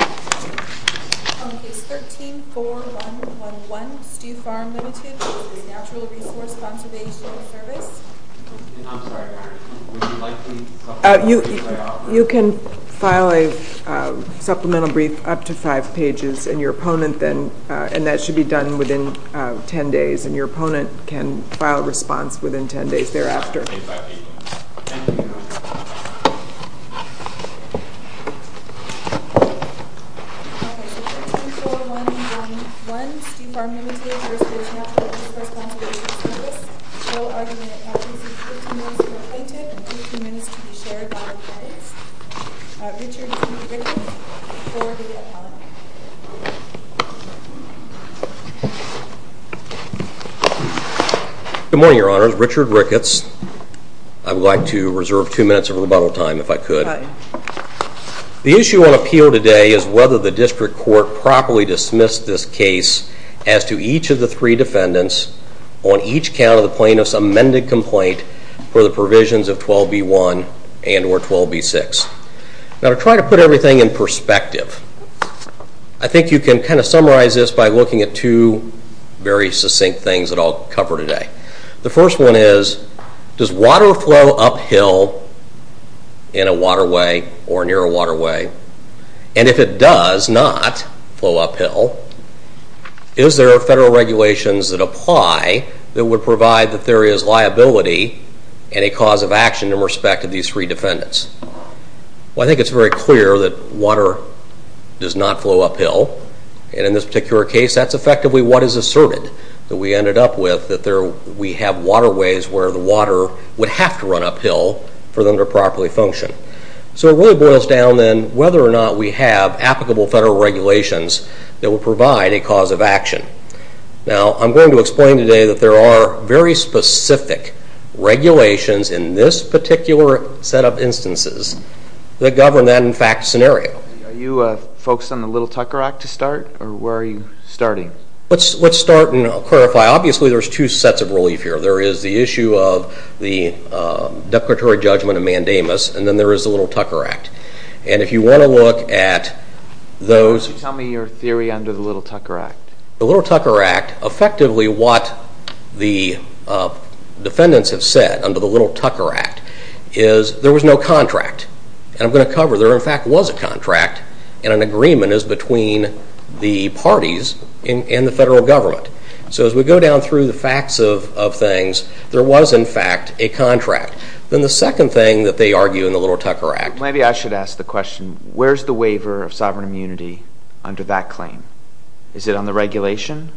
On Case 13-4111, Stew Farm Ltd v. Natural Resource Conservation Service I'm sorry, would you like me to supplement the brief I offered? You can file a supplemental brief up to 5 pages, and that should be done within 10 days. And your opponent can file a response within 10 days thereafter. Thank you. On Case 13-4111, Stew Farm Ltd v. Natural Resource Conservation Service Co-Argument on Case 13-4111 15 minutes to be shared by all parties Richard C. Ricketts, Co-Argument Good morning, Your Honors. Richard Ricketts. I would like to reserve 2 minutes of rebuttal time, if I could. The issue on appeal today is whether the District Court properly dismissed this case as to each of the three defendants on each count of the plaintiff's amended complaint for the provisions of 12b-1 and or 12b-6. Now to try to put everything in perspective, I think you can kind of summarize this by looking at two very succinct things that I'll cover today. The first one is, does water flow uphill in a waterway or near a waterway? And if it does not flow uphill, is there Federal regulations that apply that would provide the theory as liability and a cause of action in respect of these three defendants? Well, I think it's very clear that water does not flow uphill. And in this particular case, that's effectively what is asserted that we ended up with, that we have waterways where the water would have to run uphill for them to properly function. So it really boils down to whether or not we have applicable Federal regulations that would provide a cause of action. Now, I'm going to explain today that there are very specific regulations in this particular set of instances that govern that, in fact, scenario. Are you focused on the Little Tucker Act to start, or where are you starting? Let's start, and I'll clarify. Obviously, there's two sets of relief here. There is the issue of the declaratory judgment of Mandamus, and then there is the Little Tucker Act. And if you want to look at those... Tell me your theory under the Little Tucker Act. The Little Tucker Act, effectively what the defendants have said under the Little Tucker Act is there was no contract. And I'm going to cover there, in fact, was a contract, and an agreement is between the parties and the Federal Government. So as we go down through the facts of things, there was, in fact, a contract. Then the second thing that they argue in the Little Tucker Act... Maybe I should ask the question, where's the waiver of sovereign immunity under that claim? Is it on the regulation?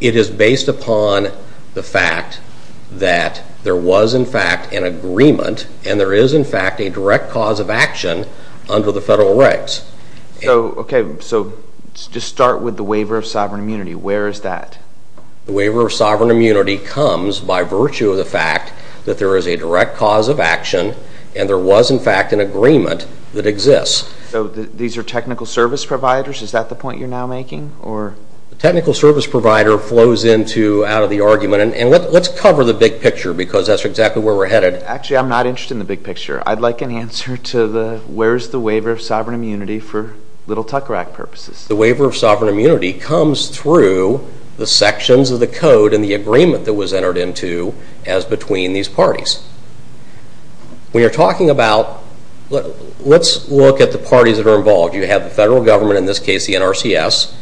It is based upon the fact that there was, in fact, an agreement, and there is, in fact, a direct cause of action under the federal regs. Okay, so just start with the waiver of sovereign immunity. Where is that? The waiver of sovereign immunity comes by virtue of the fact that there is a direct cause of action, and there was, in fact, an agreement that exists. So these are technical service providers? Is that the point you're now making? A technical service provider flows out of the argument. And let's cover the big picture because that's exactly where we're headed. Actually, I'm not interested in the big picture. I'd like an answer to the where's the waiver of sovereign immunity for Little Tucker Act purposes. The waiver of sovereign immunity comes through the sections of the code and the agreement that was entered into as between these parties. When you're talking about... Let's look at the parties that are involved. You have the Federal Government, in this case the NRCS.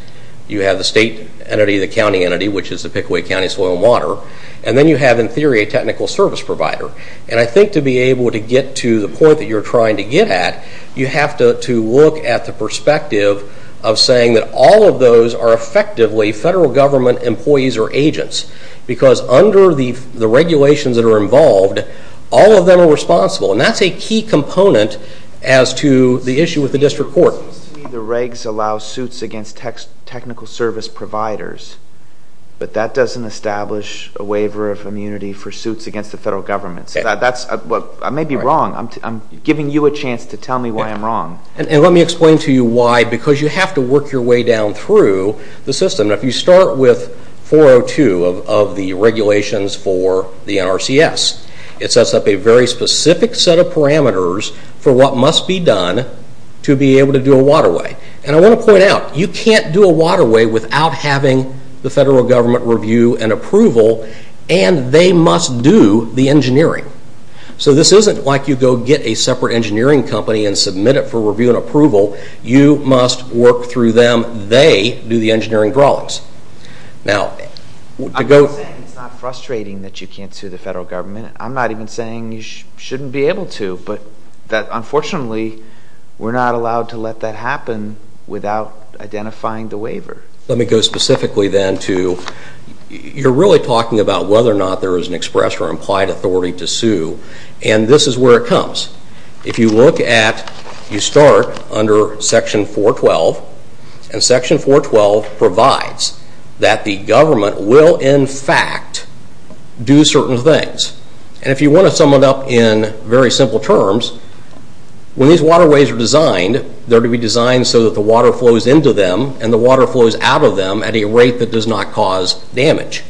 You have the state entity, the county entity, which is the Pickaway County Soil and Water. And then you have, in theory, a technical service provider. And I think to be able to get to the point that you're trying to get at, you have to look at the perspective of saying that all of those are effectively Federal Government employees or agents because under the regulations that are involved, all of them are responsible. And that's a key component as to the issue with the district court. It seems to me the regs allow suits against technical service providers, but that doesn't establish a waiver of immunity for suits against the Federal Government. I may be wrong. I'm giving you a chance to tell me why I'm wrong. And let me explain to you why because you have to work your way down through the system. If you start with 402 of the regulations for the NRCS, it sets up a very specific set of parameters for what must be done to be able to do a waterway. And I want to point out, you can't do a waterway without having the Federal Government review and approval, and they must do the engineering. So this isn't like you go get a separate engineering company and submit it for review and approval. You must work through them. They do the engineering drawings. I'm not saying it's not frustrating that you can't sue the Federal Government. I'm not even saying you shouldn't be able to, but unfortunately we're not allowed to let that happen without identifying the waiver. Let me go specifically then to you're really talking about whether or not there is an express or implied authority to sue, and this is where it comes. If you look at, you start under Section 412, and Section 412 provides that the government will in fact do certain things. And if you want to sum it up in very simple terms, when these waterways are designed, they're to be designed so that the water flows into them and the water flows out of them at a rate that does not cause damage.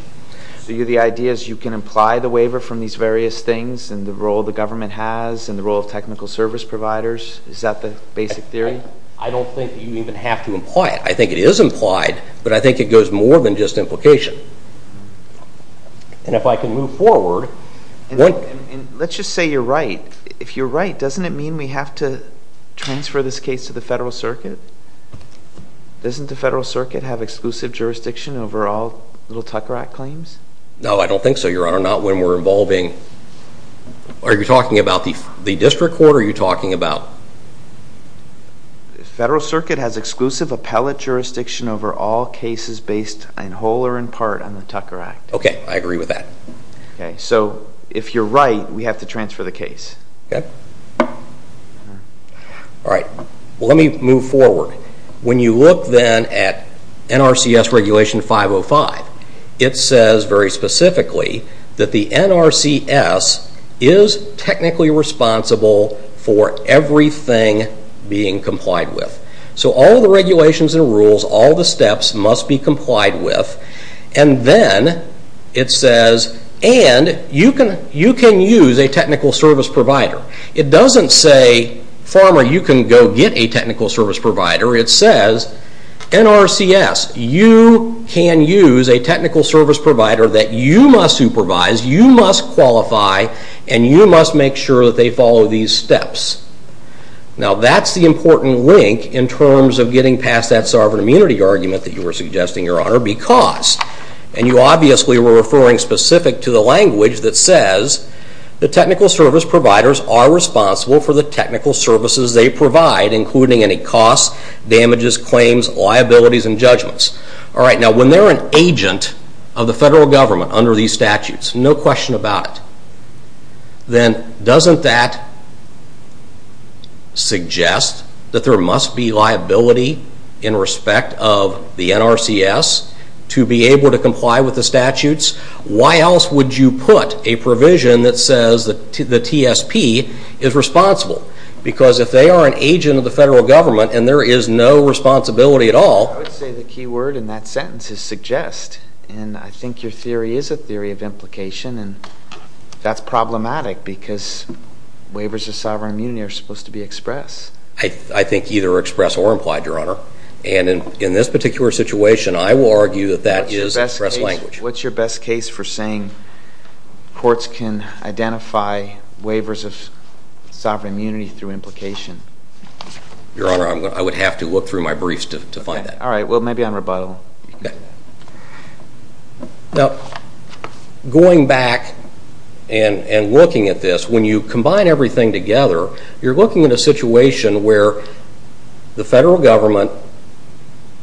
So the idea is you can imply the waiver from these various things and the role the government has and the role of technical service providers? Is that the basic theory? I don't think you even have to imply it. I think it is implied, but I think it goes more than just implication. And if I can move forward... Let's just say you're right. If you're right, doesn't it mean we have to transfer this case to the Federal Circuit? Doesn't the Federal Circuit have exclusive jurisdiction over all Little Tucker Act claims? No, I don't think so, Your Honor, not when we're involving... Are you talking about the district court or are you talking about... The Federal Circuit has exclusive appellate jurisdiction over all cases based in whole or in part on the Tucker Act. Okay, I agree with that. So if you're right, we have to transfer the case. Okay. All right, let me move forward. When you look then at NRCS Regulation 505, it says very specifically that the NRCS is technically responsible for everything being complied with. So all the regulations and rules, all the steps must be complied with. And then it says, and you can use a technical service provider. It doesn't say, Farmer, you can go get a technical service provider. It says, NRCS, you can use a technical service provider that you must supervise, you must qualify, and you must make sure that they follow these steps. Now that's the important link in terms of getting past that sovereign immunity argument that you were suggesting, Your Honor, because... And you obviously were referring specific to the language that says the technical service providers are responsible for the technical services they provide, including any costs, damages, claims, liabilities, and judgments. All right, now when they're an agent of the federal government under these statutes, no question about it, then doesn't that suggest that there must be liability in respect of the NRCS to be able to comply with the statutes? Why else would you put a provision that says the TSP is responsible? Because if they are an agent of the federal government and there is no responsibility at all... I would say the key word in that sentence is suggest. And I think your theory is a theory of implication, and that's problematic because waivers of sovereign immunity are supposed to be expressed. I think either expressed or implied, Your Honor. And in this particular situation, I will argue that that is expressed language. What's your best case for saying courts can identify waivers of sovereign immunity through implication? Your Honor, I would have to look through my briefs to find that. All right, well, maybe on rebuttal. Now, going back and looking at this, when you combine everything together, you're looking at a situation where the federal government,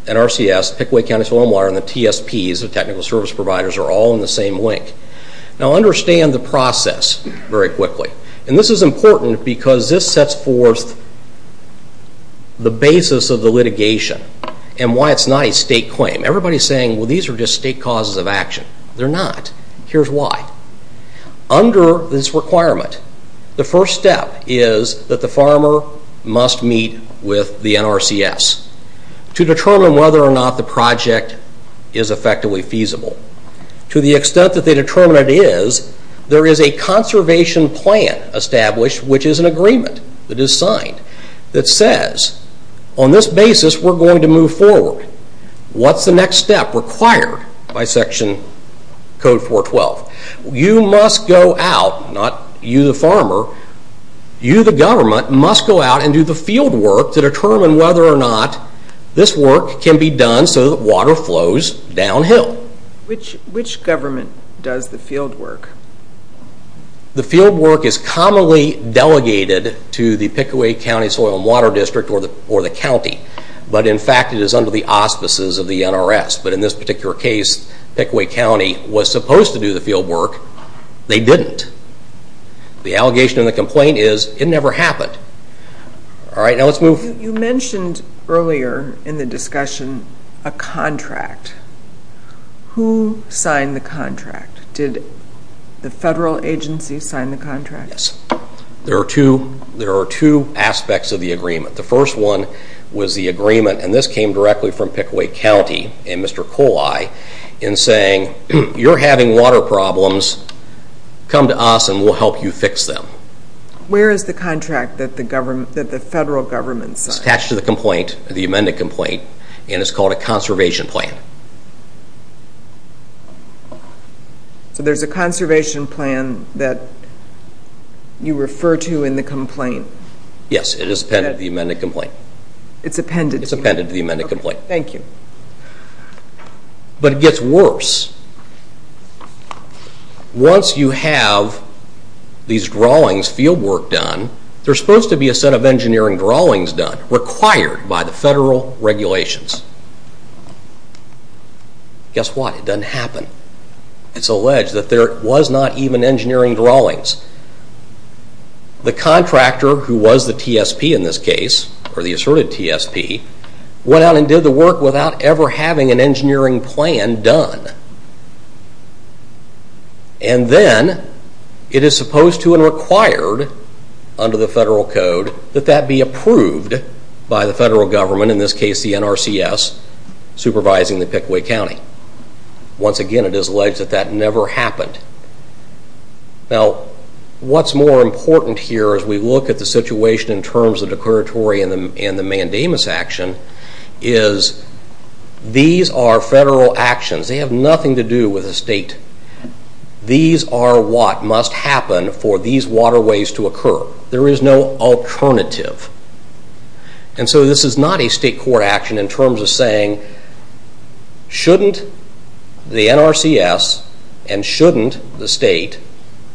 NRCS, Pickaway County Soil and Water, and the TSPs, the technical service providers, are all in the same link. Now, understand the process very quickly. And this is important because this sets forth the basis of the litigation and why it's not a state claim. Everybody is saying, well, these are just state causes of action. They're not. Here's why. Under this requirement, the first step is that the farmer must meet with the NRCS to determine whether or not the project is effectively feasible. To the extent that they determine it is, there is a conservation plan established, which is an agreement that is signed, that says, on this basis, we're going to move forward. What's the next step required by Section Code 412? You must go out, not you the farmer, you the government, must go out and do the fieldwork to determine whether or not this work can be done so that water flows downhill. Which government does the fieldwork? The fieldwork is commonly delegated to the Pickaway County Soil and Water District or the county. But in fact, it is under the auspices of the NRS. But in this particular case, Pickaway County was supposed to do the fieldwork. They didn't. The allegation in the complaint is it never happened. Now let's move. You mentioned earlier in the discussion a contract. Who signed the contract? Did the federal agency sign the contract? Yes. There are two aspects of the agreement. The first one was the agreement, and this came directly from Pickaway County in saying, you're having water problems, come to us and we'll help you fix them. Where is the contract that the federal government signed? It's attached to the complaint, the amended complaint, and it's called a conservation plan. So there's a conservation plan that you refer to in the complaint? Yes, it is appended to the amended complaint. It's appended to the amended complaint. Thank you. But it gets worse. Once you have these drawings, fieldwork done, there's supposed to be a set of engineering drawings done, required by the federal regulations. Guess what? It doesn't happen. It's alleged that there was not even engineering drawings. The contractor, who was the TSP in this case, or the asserted TSP, went out and did the work without ever having an engineering plan done. And then, it is supposed to and required under the federal code that that be approved by the federal government, in this case the NRCS, supervising the Pickaway County. Once again, it is alleged that that never happened. Now, what's more important here as we look at the situation in terms of the declaratory and the mandamus action, is these are federal actions. They have nothing to do with the state. These are what must happen for these waterways to occur. There is no alternative. And so this is not a state court action in terms of saying, shouldn't the NRCS and shouldn't the state,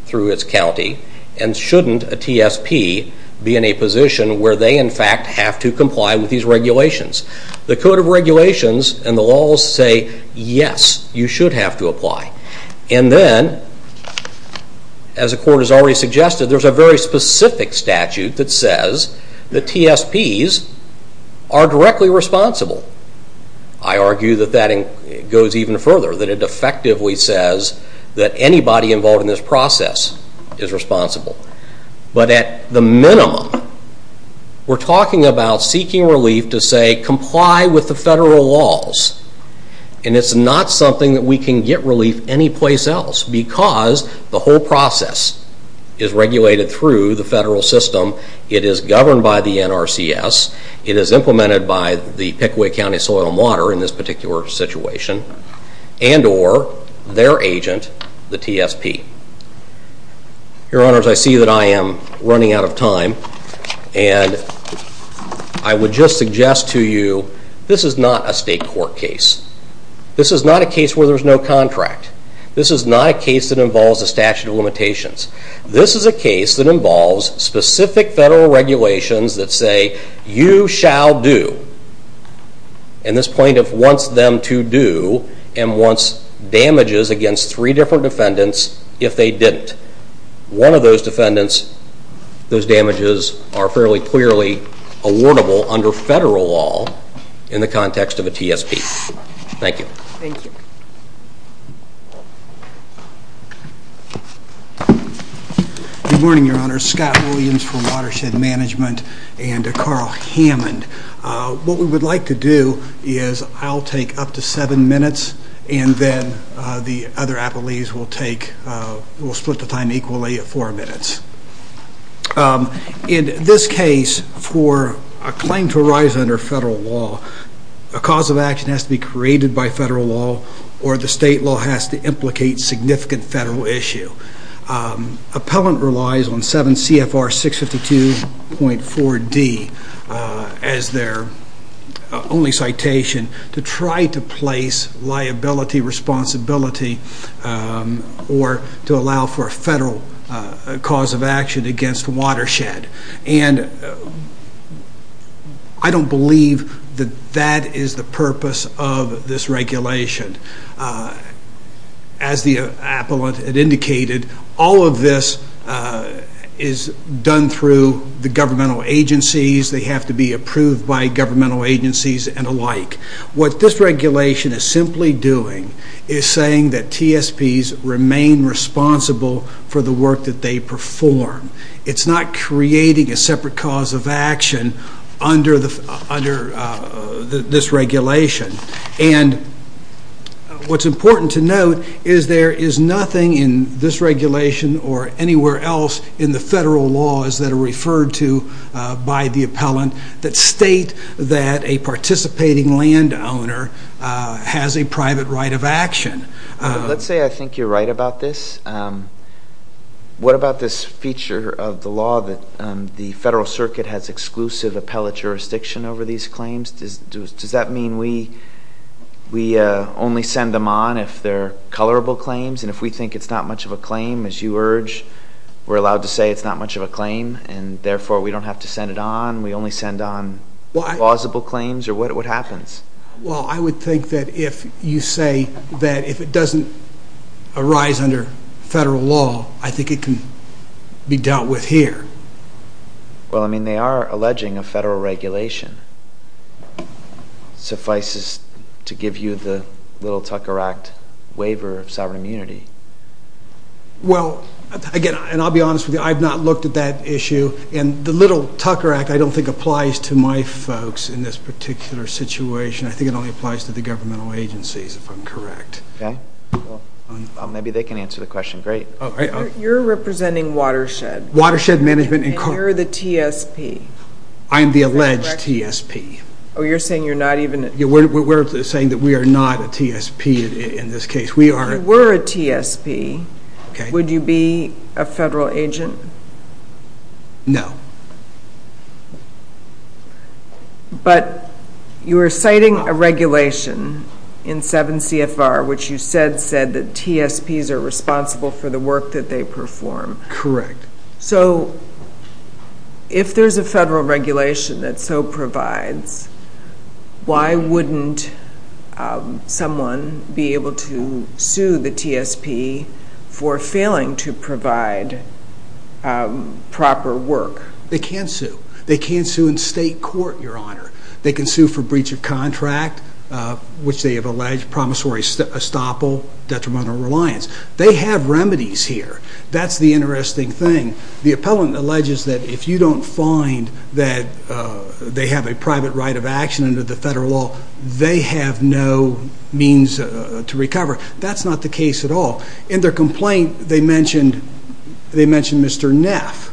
through its county, and shouldn't a TSP be in a position where they, in fact, have to comply with these regulations. The code of regulations and the laws say, yes, you should have to apply. And then, as the court has already suggested, there is a very specific statute that says that TSPs are directly responsible. I argue that that goes even further, that it effectively says that anybody involved in this process is responsible. But at the minimum, we're talking about seeking relief to say comply with the federal laws. And it's not something that we can get relief anyplace else because the whole process is regulated through the federal system. It is governed by the NRCS. It is implemented by the Pickaway County Soil and Water in this particular situation and or their agent, the TSP. Your Honors, I see that I am running out of time. And I would just suggest to you this is not a state court case. This is not a case where there's no contract. This is not a case that involves a statute of limitations. This is a case that involves specific federal regulations that say you shall do. And this plaintiff wants them to do and wants damages against three different defendants if they didn't. One of those defendants, those damages are fairly clearly awardable under federal law in the context of a TSP. Thank you. Good morning, Your Honors. Scott Williams from Watershed Management and Carl Hammond. What we would like to do is I'll take up to seven minutes and then the other appellees will split the time equally at four minutes. In this case, for a claim to arise under federal law, a cause of action has to be created by federal law or the state law has to implicate significant federal issue. Appellant relies on 7 CFR 652.4D as their only citation to try to place liability, responsibility, or to allow for a federal cause of action against Watershed. And I don't believe that that is the purpose of this regulation. As the appellant had indicated, all of this is done through the governmental agencies. They have to be approved by governmental agencies and the like. What this regulation is simply doing is saying that TSPs remain responsible for the work that they perform. It's not creating a separate cause of action under this regulation. And what's important to note is there is nothing in this regulation or anywhere else in the federal laws that are referred to by the appellant that state that a participating landowner has a private right of action. Let's say I think you're right about this. What about this feature of the law that the federal circuit has exclusive appellate jurisdiction over these claims? Does that mean we only send them on if they're colorable claims and if we think it's not much of a claim, as you urge, we're allowed to say it's not much of a claim and therefore we don't have to send it on? We only send on plausible claims? Or what happens? Well, I would think that if you say that if it doesn't arise under federal law, I think it can be dealt with here. Well, I mean, they are alleging a federal regulation. Suffices to give you the Little Tucker Act waiver of sovereign immunity. Well, again, and I'll be honest with you, I've not looked at that issue. And the Little Tucker Act I don't think applies to my folks in this particular situation. I think it only applies to the governmental agencies, if I'm correct. Okay. Well, maybe they can answer the question. Great. You're representing Watershed. Watershed Management. And you're the TSP. I am the alleged TSP. Oh, you're saying you're not even a TSP? We're saying that we are not a TSP in this case. If you were a TSP, would you be a federal agent? No. But you are citing a regulation in 7 CFR, which you said said that TSPs are responsible for the work that they perform. Correct. So if there's a federal regulation that so provides, why wouldn't someone be able to sue the TSP for failing to provide proper work? They can sue. They can sue in state court, Your Honor. They can sue for breach of contract, which they have alleged promissory estoppel, detrimental reliance. They have remedies here. That's the interesting thing. The appellant alleges that if you don't find that they have a private right of action under the federal law, they have no means to recover. That's not the case at all. In their complaint, they mentioned Mr. Neff.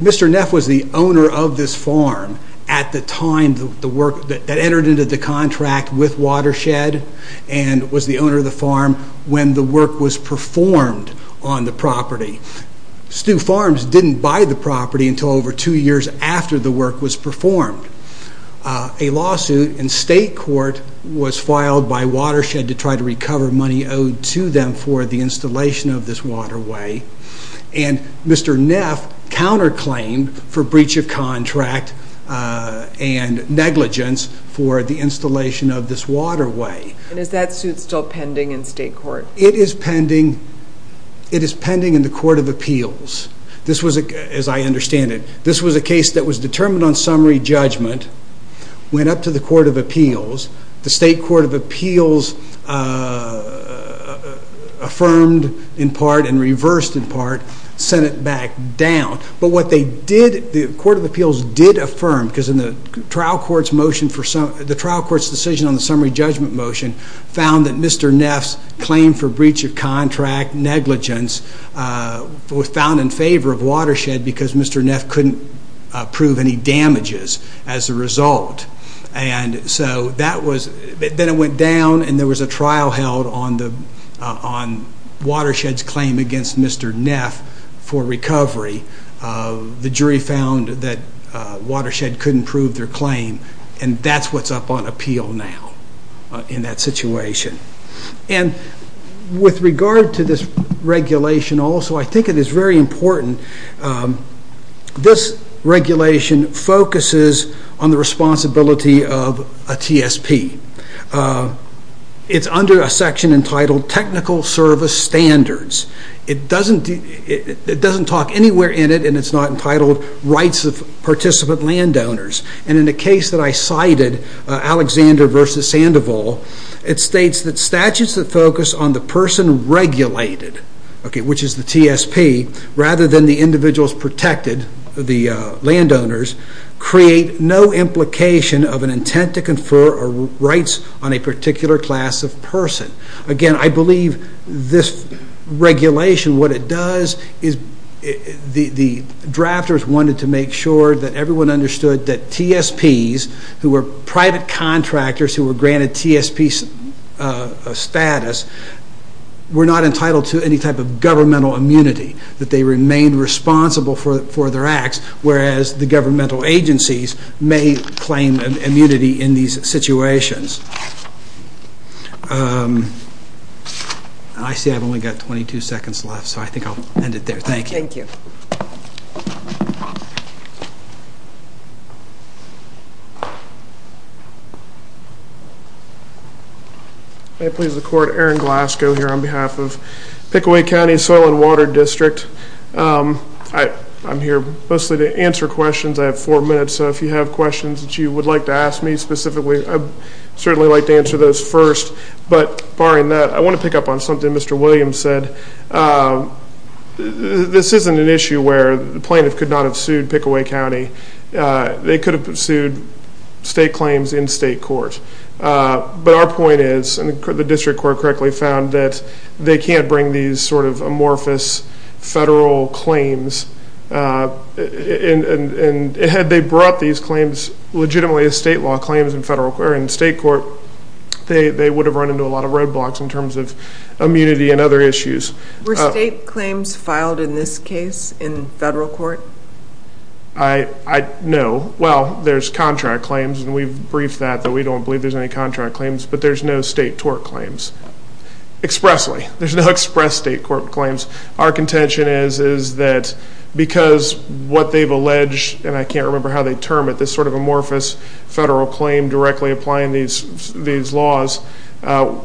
Mr. Neff was the owner of this farm at the time that entered into the contract with Watershed and was the owner of the farm when the work was performed on the property. Stew Farms didn't buy the property until over two years after the work was performed. A lawsuit in state court was filed by Watershed to try to recover money owed to them for the installation of this waterway, and Mr. Neff counterclaimed for breach of contract and negligence for the installation of this waterway. And is that suit still pending in state court? It is pending in the court of appeals, as I understand it. This was a case that was determined on summary judgment, went up to the court of appeals. The state court of appeals affirmed in part and reversed in part, sent it back down. But what they did, the court of appeals did affirm, because the trial court's decision on the summary judgment motion found that Mr. Neff's claim for breach of contract, negligence, was found in favor of Watershed because Mr. Neff couldn't prove any damages as a result. And so that was, then it went down and there was a trial held on Watershed's claim against Mr. Neff for recovery. The jury found that Watershed couldn't prove their claim, and that's what's up on appeal now in that situation. And with regard to this regulation also, I think it is very important. This regulation focuses on the responsibility of a TSP. It's under a section entitled Technical Service Standards. It doesn't talk anywhere in it, and it's not entitled Rights of Participant Landowners. And in a case that I cited, Alexander v. Sandoval, it states that statutes that focus on the person regulated, which is the TSP, rather than the individuals protected, the landowners, create no implication of an intent to confer rights on a particular class of person. Again, I believe this regulation, what it does is the drafters wanted to make sure that everyone understood that TSPs, who were private contractors who were granted TSP status, were not entitled to any type of governmental immunity, that they remained responsible for their acts, whereas the governmental agencies may claim immunity in these situations. I see I've only got 22 seconds left, so I think I'll end it there. Thank you. Thank you. May it please the Court, Aaron Glasgow here on behalf of Pickaway County Soil and Water District. I'm here mostly to answer questions. I have four minutes, so if you have questions that you would like to ask me specifically, I'd certainly like to answer those first, but barring that, I want to pick up on something Mr. Williams said. This isn't an issue where the plaintiff could not have sued Pickaway County. They could have sued state claims in state court, but our point is, and the district court correctly found, that they can't bring these sort of amorphous federal claims. Had they brought these claims legitimately as state law claims in state court, they would have run into a lot of roadblocks in terms of immunity and other issues. Were state claims filed in this case in federal court? No. Well, there's contract claims, and we've briefed that. We don't believe there's any contract claims, but there's no state tort claims expressly. There's no express state court claims. Our contention is that because what they've alleged, and I can't remember how they term it, this sort of amorphous federal claim directly applying these laws,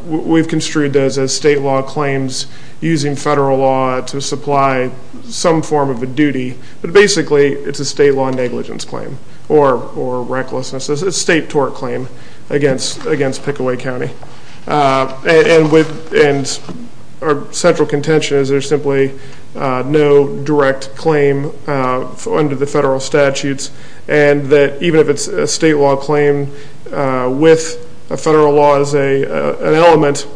we've construed those as state law claims using federal law to supply some form of a duty. But basically, it's a state law negligence claim or recklessness. It's a state tort claim against Pickaway County. And our central contention is there's simply no direct claim under the federal statutes and that even if it's a state law claim with a federal law as an element,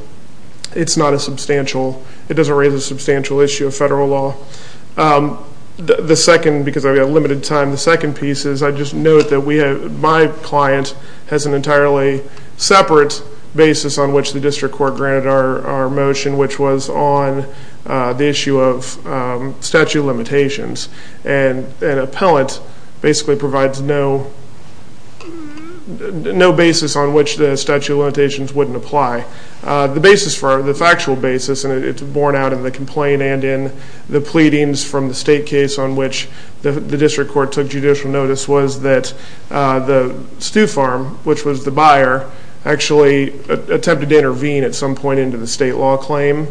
it's not a substantial. It doesn't raise a substantial issue of federal law. The second, because I've got limited time, the second piece is I just note that my client has an entirely separate basis on which the district court granted our motion, which was on the issue of statute of limitations. And an appellant basically provides no basis on which the statute of limitations wouldn't apply. The basis for it, the factual basis, and it's borne out in the complaint and in the pleadings from the state case on which the district court took judicial notice, was that the stew farm, which was the buyer, actually attempted to intervene at some point into the state law claim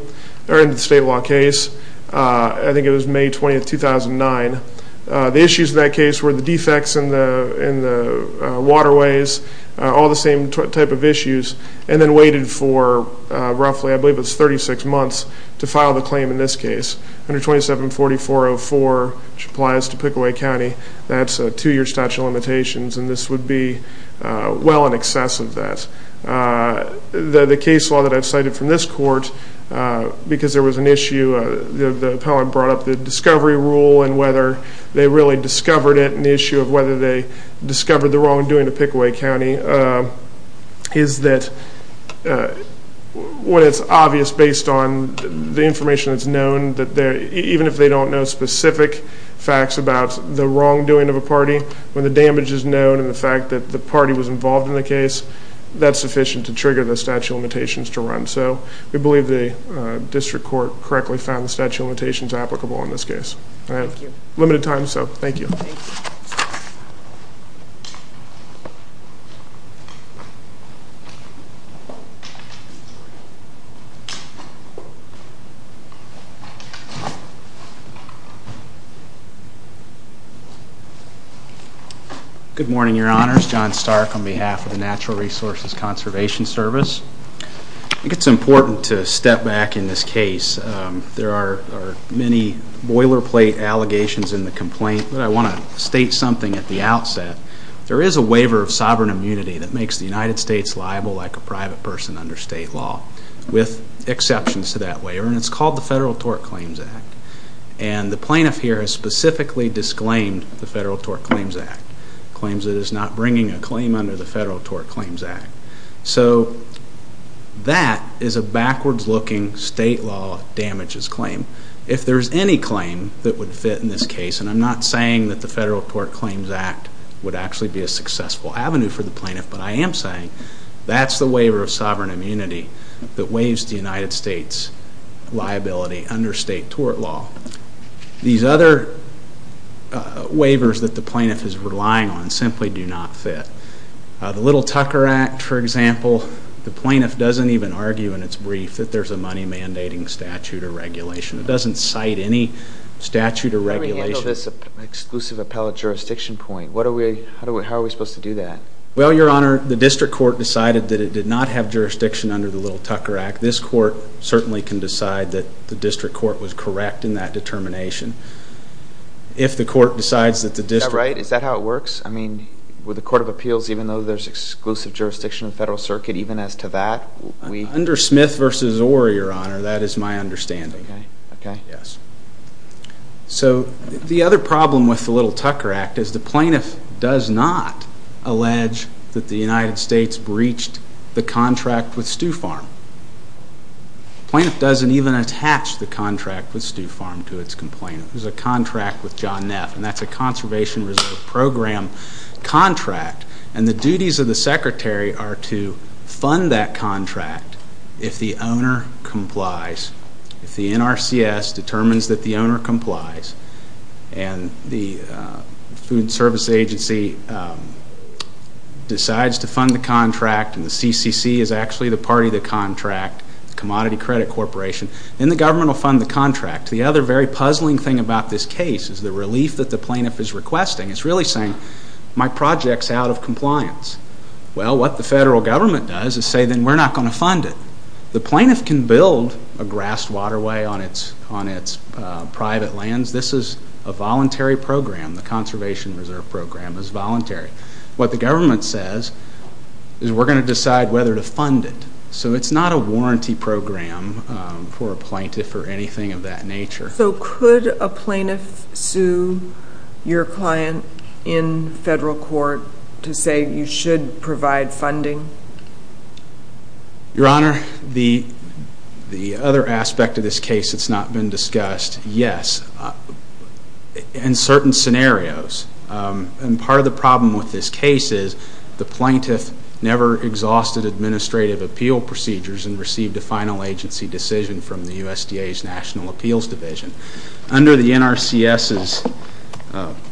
or into the state law case. I think it was May 20, 2009. The issues in that case were the defects in the waterways, all the same type of issues, and then waited for roughly, I believe it was 36 months, to file the claim in this case. Under 2740.404, which applies to Pickaway County, that's a two-year statute of limitations and this would be well in excess of that. The case law that I've cited from this court, because there was an issue, the appellant brought up the discovery rule and whether they really discovered it and the issue of whether they discovered the wrongdoing of Pickaway County, is that what is obvious based on the information that's known, even if they don't know specific facts about the wrongdoing of a party, when the damage is known and the fact that the party was involved in the case, that's sufficient to trigger the statute of limitations to run. So we believe the district court correctly found the statute of limitations applicable in this case. I have limited time, so thank you. Good morning, Your Honors. John Stark on behalf of the Natural Resources Conservation Service. I think it's important to step back in this case. There are many boilerplate allegations in the complaint, but I want to state something at the outset. There is a waiver of sovereign immunity that makes the United States liable like a private person under state law, with exceptions to that waiver, and it's called the Federal Tort Claims Act. And the plaintiff here has specifically disclaimed the Federal Tort Claims Act, claims it is not bringing a claim under the Federal Tort Claims Act. So that is a backwards-looking state law damages claim. If there's any claim that would fit in this case, and I'm not saying that the Federal Tort Claims Act would actually be a successful avenue for the plaintiff, but I am saying that's the waiver of sovereign immunity that waives the United States liability under state tort law. These other waivers that the plaintiff is relying on simply do not fit. The Little Tucker Act, for example, the plaintiff doesn't even argue in its brief that there's a money-mandating statute or regulation. It doesn't cite any statute or regulation. Let me handle this exclusive appellate jurisdiction point. How are we supposed to do that? Well, Your Honor, the district court decided that it did not have jurisdiction under the Little Tucker Act. This court certainly can decide that the district court was correct in that determination. If the court decides that the district... Is that right? Is that how it works? I mean, with the Court of Appeals, even though there's exclusive jurisdiction in the Federal Circuit, even as to that, we... Under Smith v. Orr, Your Honor, that is my understanding. Okay. Yes. So the other problem with the Little Tucker Act is the plaintiff does not allege that the United States breached the contract with Stew Farm. The plaintiff doesn't even attach the contract with Stew Farm to its complainant. There's a contract with John Neff, and that's a Conservation Reserve Program contract, and the duties of the secretary are to fund that contract if the owner complies, if the NRCS determines that the owner complies, and the Food Service Agency decides to fund the contract and the CCC is actually the party to the contract, the Commodity Credit Corporation, then the government will fund the contract. The other very puzzling thing about this case is the relief that the plaintiff is requesting. It's really saying, my project's out of compliance. Well, what the federal government does is say, then we're not going to fund it. The plaintiff can build a grassed waterway on its private lands. This is a voluntary program. The Conservation Reserve Program is voluntary. What the government says is we're going to decide whether to fund it. So it's not a warranty program for a plaintiff or anything of that nature. So could a plaintiff sue your client in federal court to say you should provide funding? Your Honor, the other aspect of this case that's not been discussed, yes. In certain scenarios, and part of the problem with this case is the plaintiff never exhausted administrative appeal procedures and received a final agency decision from the USDA's National Appeals Division. Under the NRCS's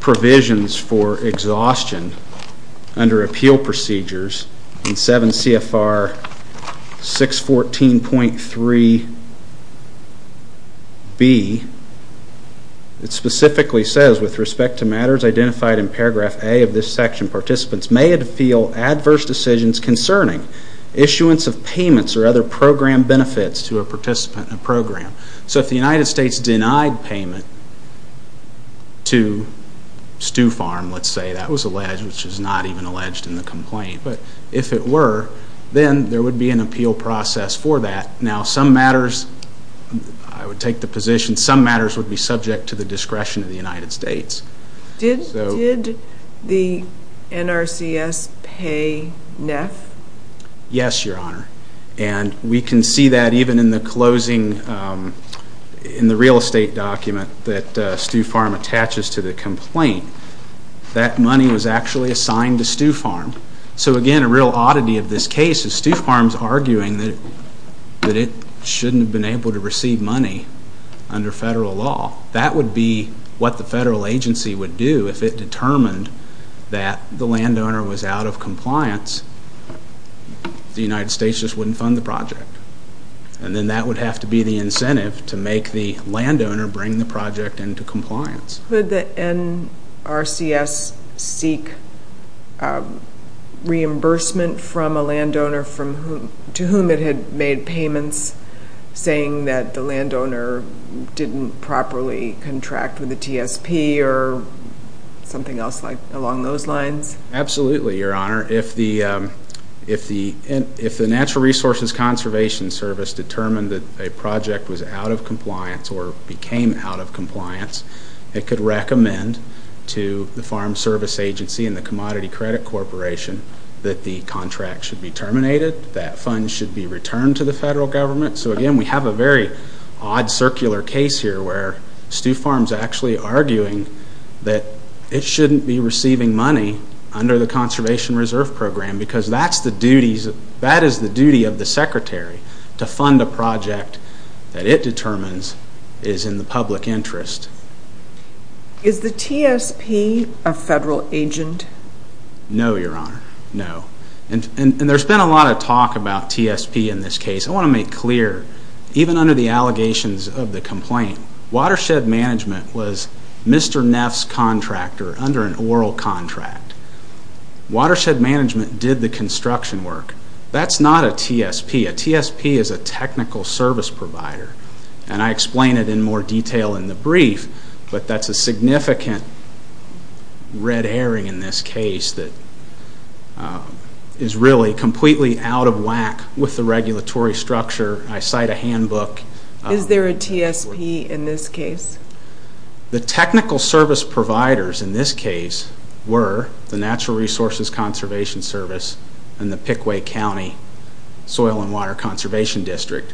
provisions for exhaustion under appeal procedures in 7 CFR 614.3b, it specifically says, with respect to matters identified in paragraph A of this section, participants may feel adverse decisions concerning issuance of payments or other program benefits to a participant in a program. So if the United States denied payment to Stew Farm, let's say, that was alleged, which is not even alleged in the complaint. But if it were, then there would be an appeal process for that. Now some matters, I would take the position, some matters would be subject to the discretion of the United States. Did the NRCS pay NEF? Yes, Your Honor. And we can see that even in the closing, in the real estate document that Stew Farm attaches to the complaint. That money was actually assigned to Stew Farm. So again, a real oddity of this case is Stew Farm is arguing that it shouldn't have been able to receive money under federal law. That would be what the federal agency would do if it determined that the landowner was out of compliance. The United States just wouldn't fund the project. And then that would have to be the incentive to make the landowner bring the project into compliance. Could the NRCS seek reimbursement from a landowner to whom it had made payments, saying that the landowner didn't properly contract with the TSP or something else along those lines? Absolutely, Your Honor. If the Natural Resources Conservation Service determined that a project was out of compliance or became out of compliance, it could recommend to the Farm Service Agency and the Commodity Credit Corporation that the contract should be terminated, that funds should be returned to the federal government. So again, we have a very odd circular case here where Stew Farm is actually arguing that it shouldn't be receiving money under the Conservation Reserve Program because that is the duty of the secretary to fund a project that it determines is in the public interest. Is the TSP a federal agent? No, Your Honor. No. And there's been a lot of talk about TSP in this case. I want to make clear, even under the allegations of the complaint, Watershed Management was Mr. Neff's contractor under an oral contract. Watershed Management did the construction work. That's not a TSP. A TSP is a technical service provider. And I explain it in more detail in the brief, but that's a significant red herring in this case that is really completely out of whack with the regulatory structure. I cite a handbook. Is there a TSP in this case? The technical service providers in this case were the Natural Resources Conservation Service and the Pickway County Soil and Water Conservation District.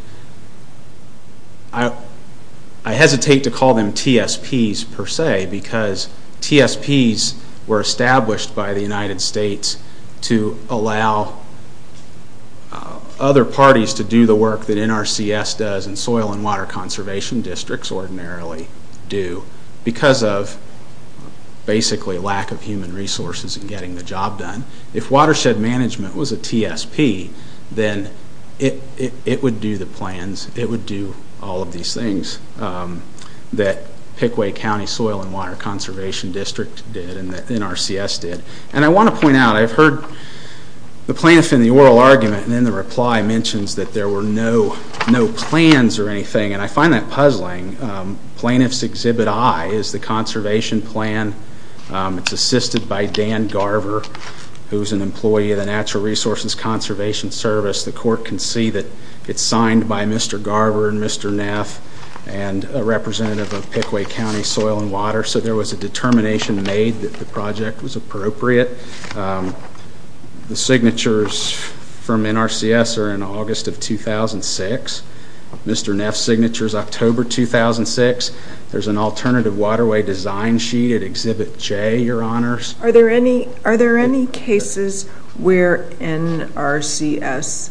I hesitate to call them TSPs per se because TSPs were established by the United States to allow other parties to do the work that NRCS does and soil and water conservation districts ordinarily do because of basically lack of human resources in getting the job done. If Watershed Management was a TSP, then it would do the plans. It would do all of these things that Pickway County Soil and Water Conservation District did and NRCS did. And I want to point out, I've heard the plaintiff in the oral argument and in the reply mentions that there were no plans or anything, and I find that puzzling. Plaintiff's Exhibit I is the conservation plan. It's assisted by Dan Garver, who's an employee of the Natural Resources Conservation Service. The court can see that it's signed by Mr. Garver and Mr. Neff and a representative of Pickway County Soil and Water, so there was a determination made that the project was appropriate. The signatures from NRCS are in August of 2006. Mr. Neff's signature is October 2006. There's an alternative waterway design sheet at Exhibit J, Your Honors. Are there any cases where NRCS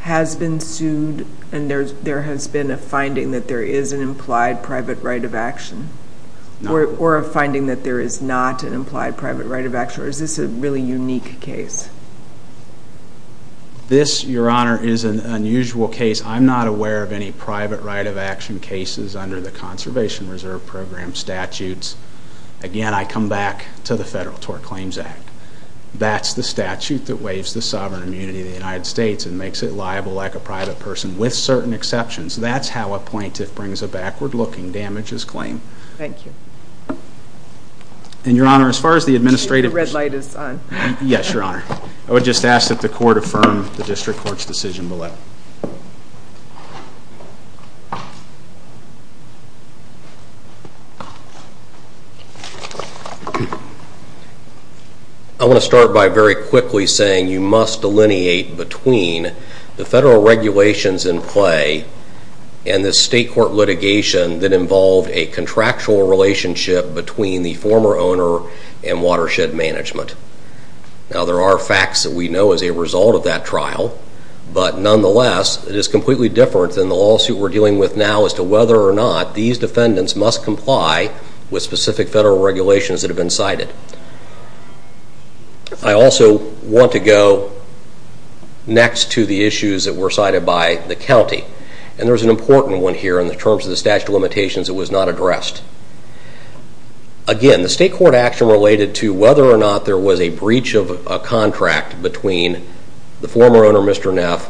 has been sued and there has been a finding that there is an implied private right of action or a finding that there is not an implied private right of action, or is this a really unique case? This, Your Honor, is an unusual case. I'm not aware of any private right of action cases under the Conservation Reserve Program statutes. Again, I come back to the Federal Tort Claims Act. That's the statute that waives the sovereign immunity of the United States and makes it liable like a private person with certain exceptions. That's how a plaintiff brings a backward-looking damages claim. Thank you. And, Your Honor, as far as the administrative... The red light is on. Yes, Your Honor. I would just ask that the court affirm the district court's decision below. I want to start by very quickly saying you must delineate between the federal regulations in play and the state court litigation that involved a contractual relationship between the former owner and watershed management. Now, there are facts that we know as a result of that trial, but nonetheless, it is completely different than the lawsuit we're dealing with now as to whether or not these defendants must comply with specific federal regulations that have been cited. I also want to go next to the issues that were cited by the county, and there's an important one here. In terms of the statute of limitations, it was not addressed. Again, the state court action related to whether or not there was a breach of a contract between the former owner, Mr. Neff,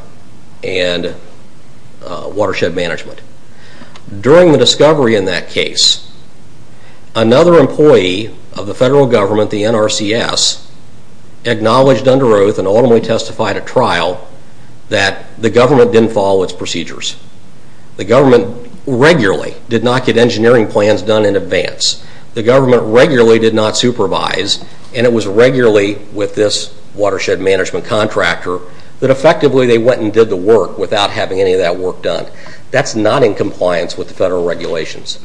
and watershed management. During the discovery in that case, another employee of the federal government, the NRCS, acknowledged under oath and ultimately testified at trial that the government didn't follow its procedures. The government regularly did not get engineering plans done in advance. The government regularly did not supervise, and it was regularly with this watershed management contractor that effectively they went and did the work without having any of that work done. That's not in compliance with the federal regulations.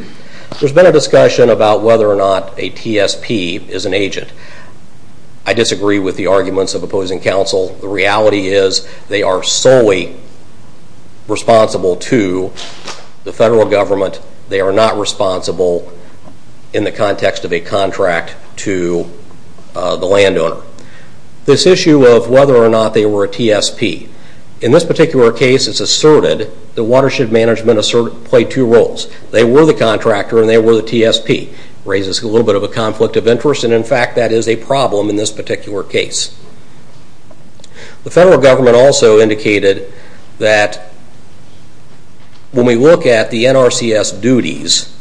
There's been a discussion about whether or not a TSP is an agent. I disagree with the arguments of opposing counsel. The reality is they are solely responsible to the federal government. They are not responsible in the context of a contract to the landowner. This issue of whether or not they were a TSP, in this particular case it's asserted that watershed management played two roles. They were the contractor and they were the TSP. It raises a little bit of a conflict of interest, and in fact that is a problem in this particular case. The federal government also indicated that when we look at the NRCS duties,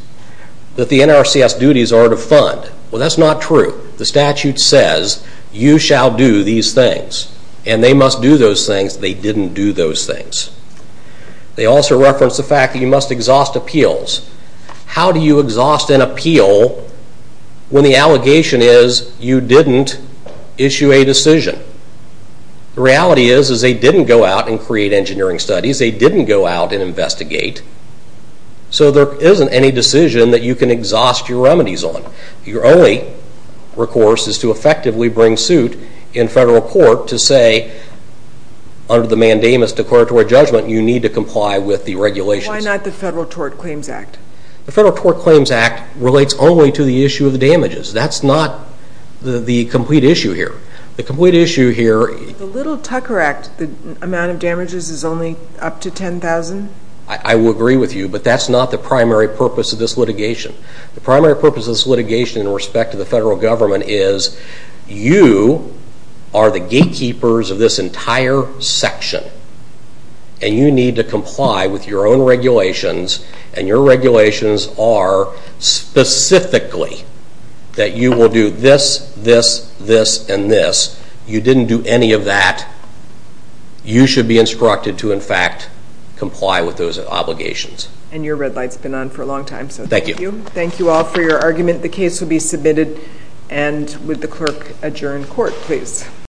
that the NRCS duties are to fund. Well, that's not true. The statute says you shall do these things, and they must do those things. They didn't do those things. They also reference the fact that you must exhaust appeals. How do you exhaust an appeal when the allegation is you didn't issue a decision? The reality is they didn't go out and create engineering studies. They didn't go out and investigate. So there isn't any decision that you can exhaust your remedies on. Your only recourse is to effectively bring suit in federal court to say, under the mandamus decoratory judgment, you need to comply with the regulations. Why not the Federal Tort Claims Act? The Federal Tort Claims Act relates only to the issue of the damages. That's not the complete issue here. The complete issue here... The Little Tucker Act, the amount of damages is only up to 10,000? I will agree with you, but that's not the primary purpose of this litigation. The primary purpose of this litigation in respect to the federal government is you are the gatekeepers of this entire section, and you need to comply with your own regulations and your regulations are specifically that you will do this, this, this, and this. You didn't do any of that. You should be instructed to, in fact, comply with those obligations. And your red light's been on for a long time, so thank you. Thank you. Thank you all for your argument. The case will be submitted, and would the clerk adjourn court, please?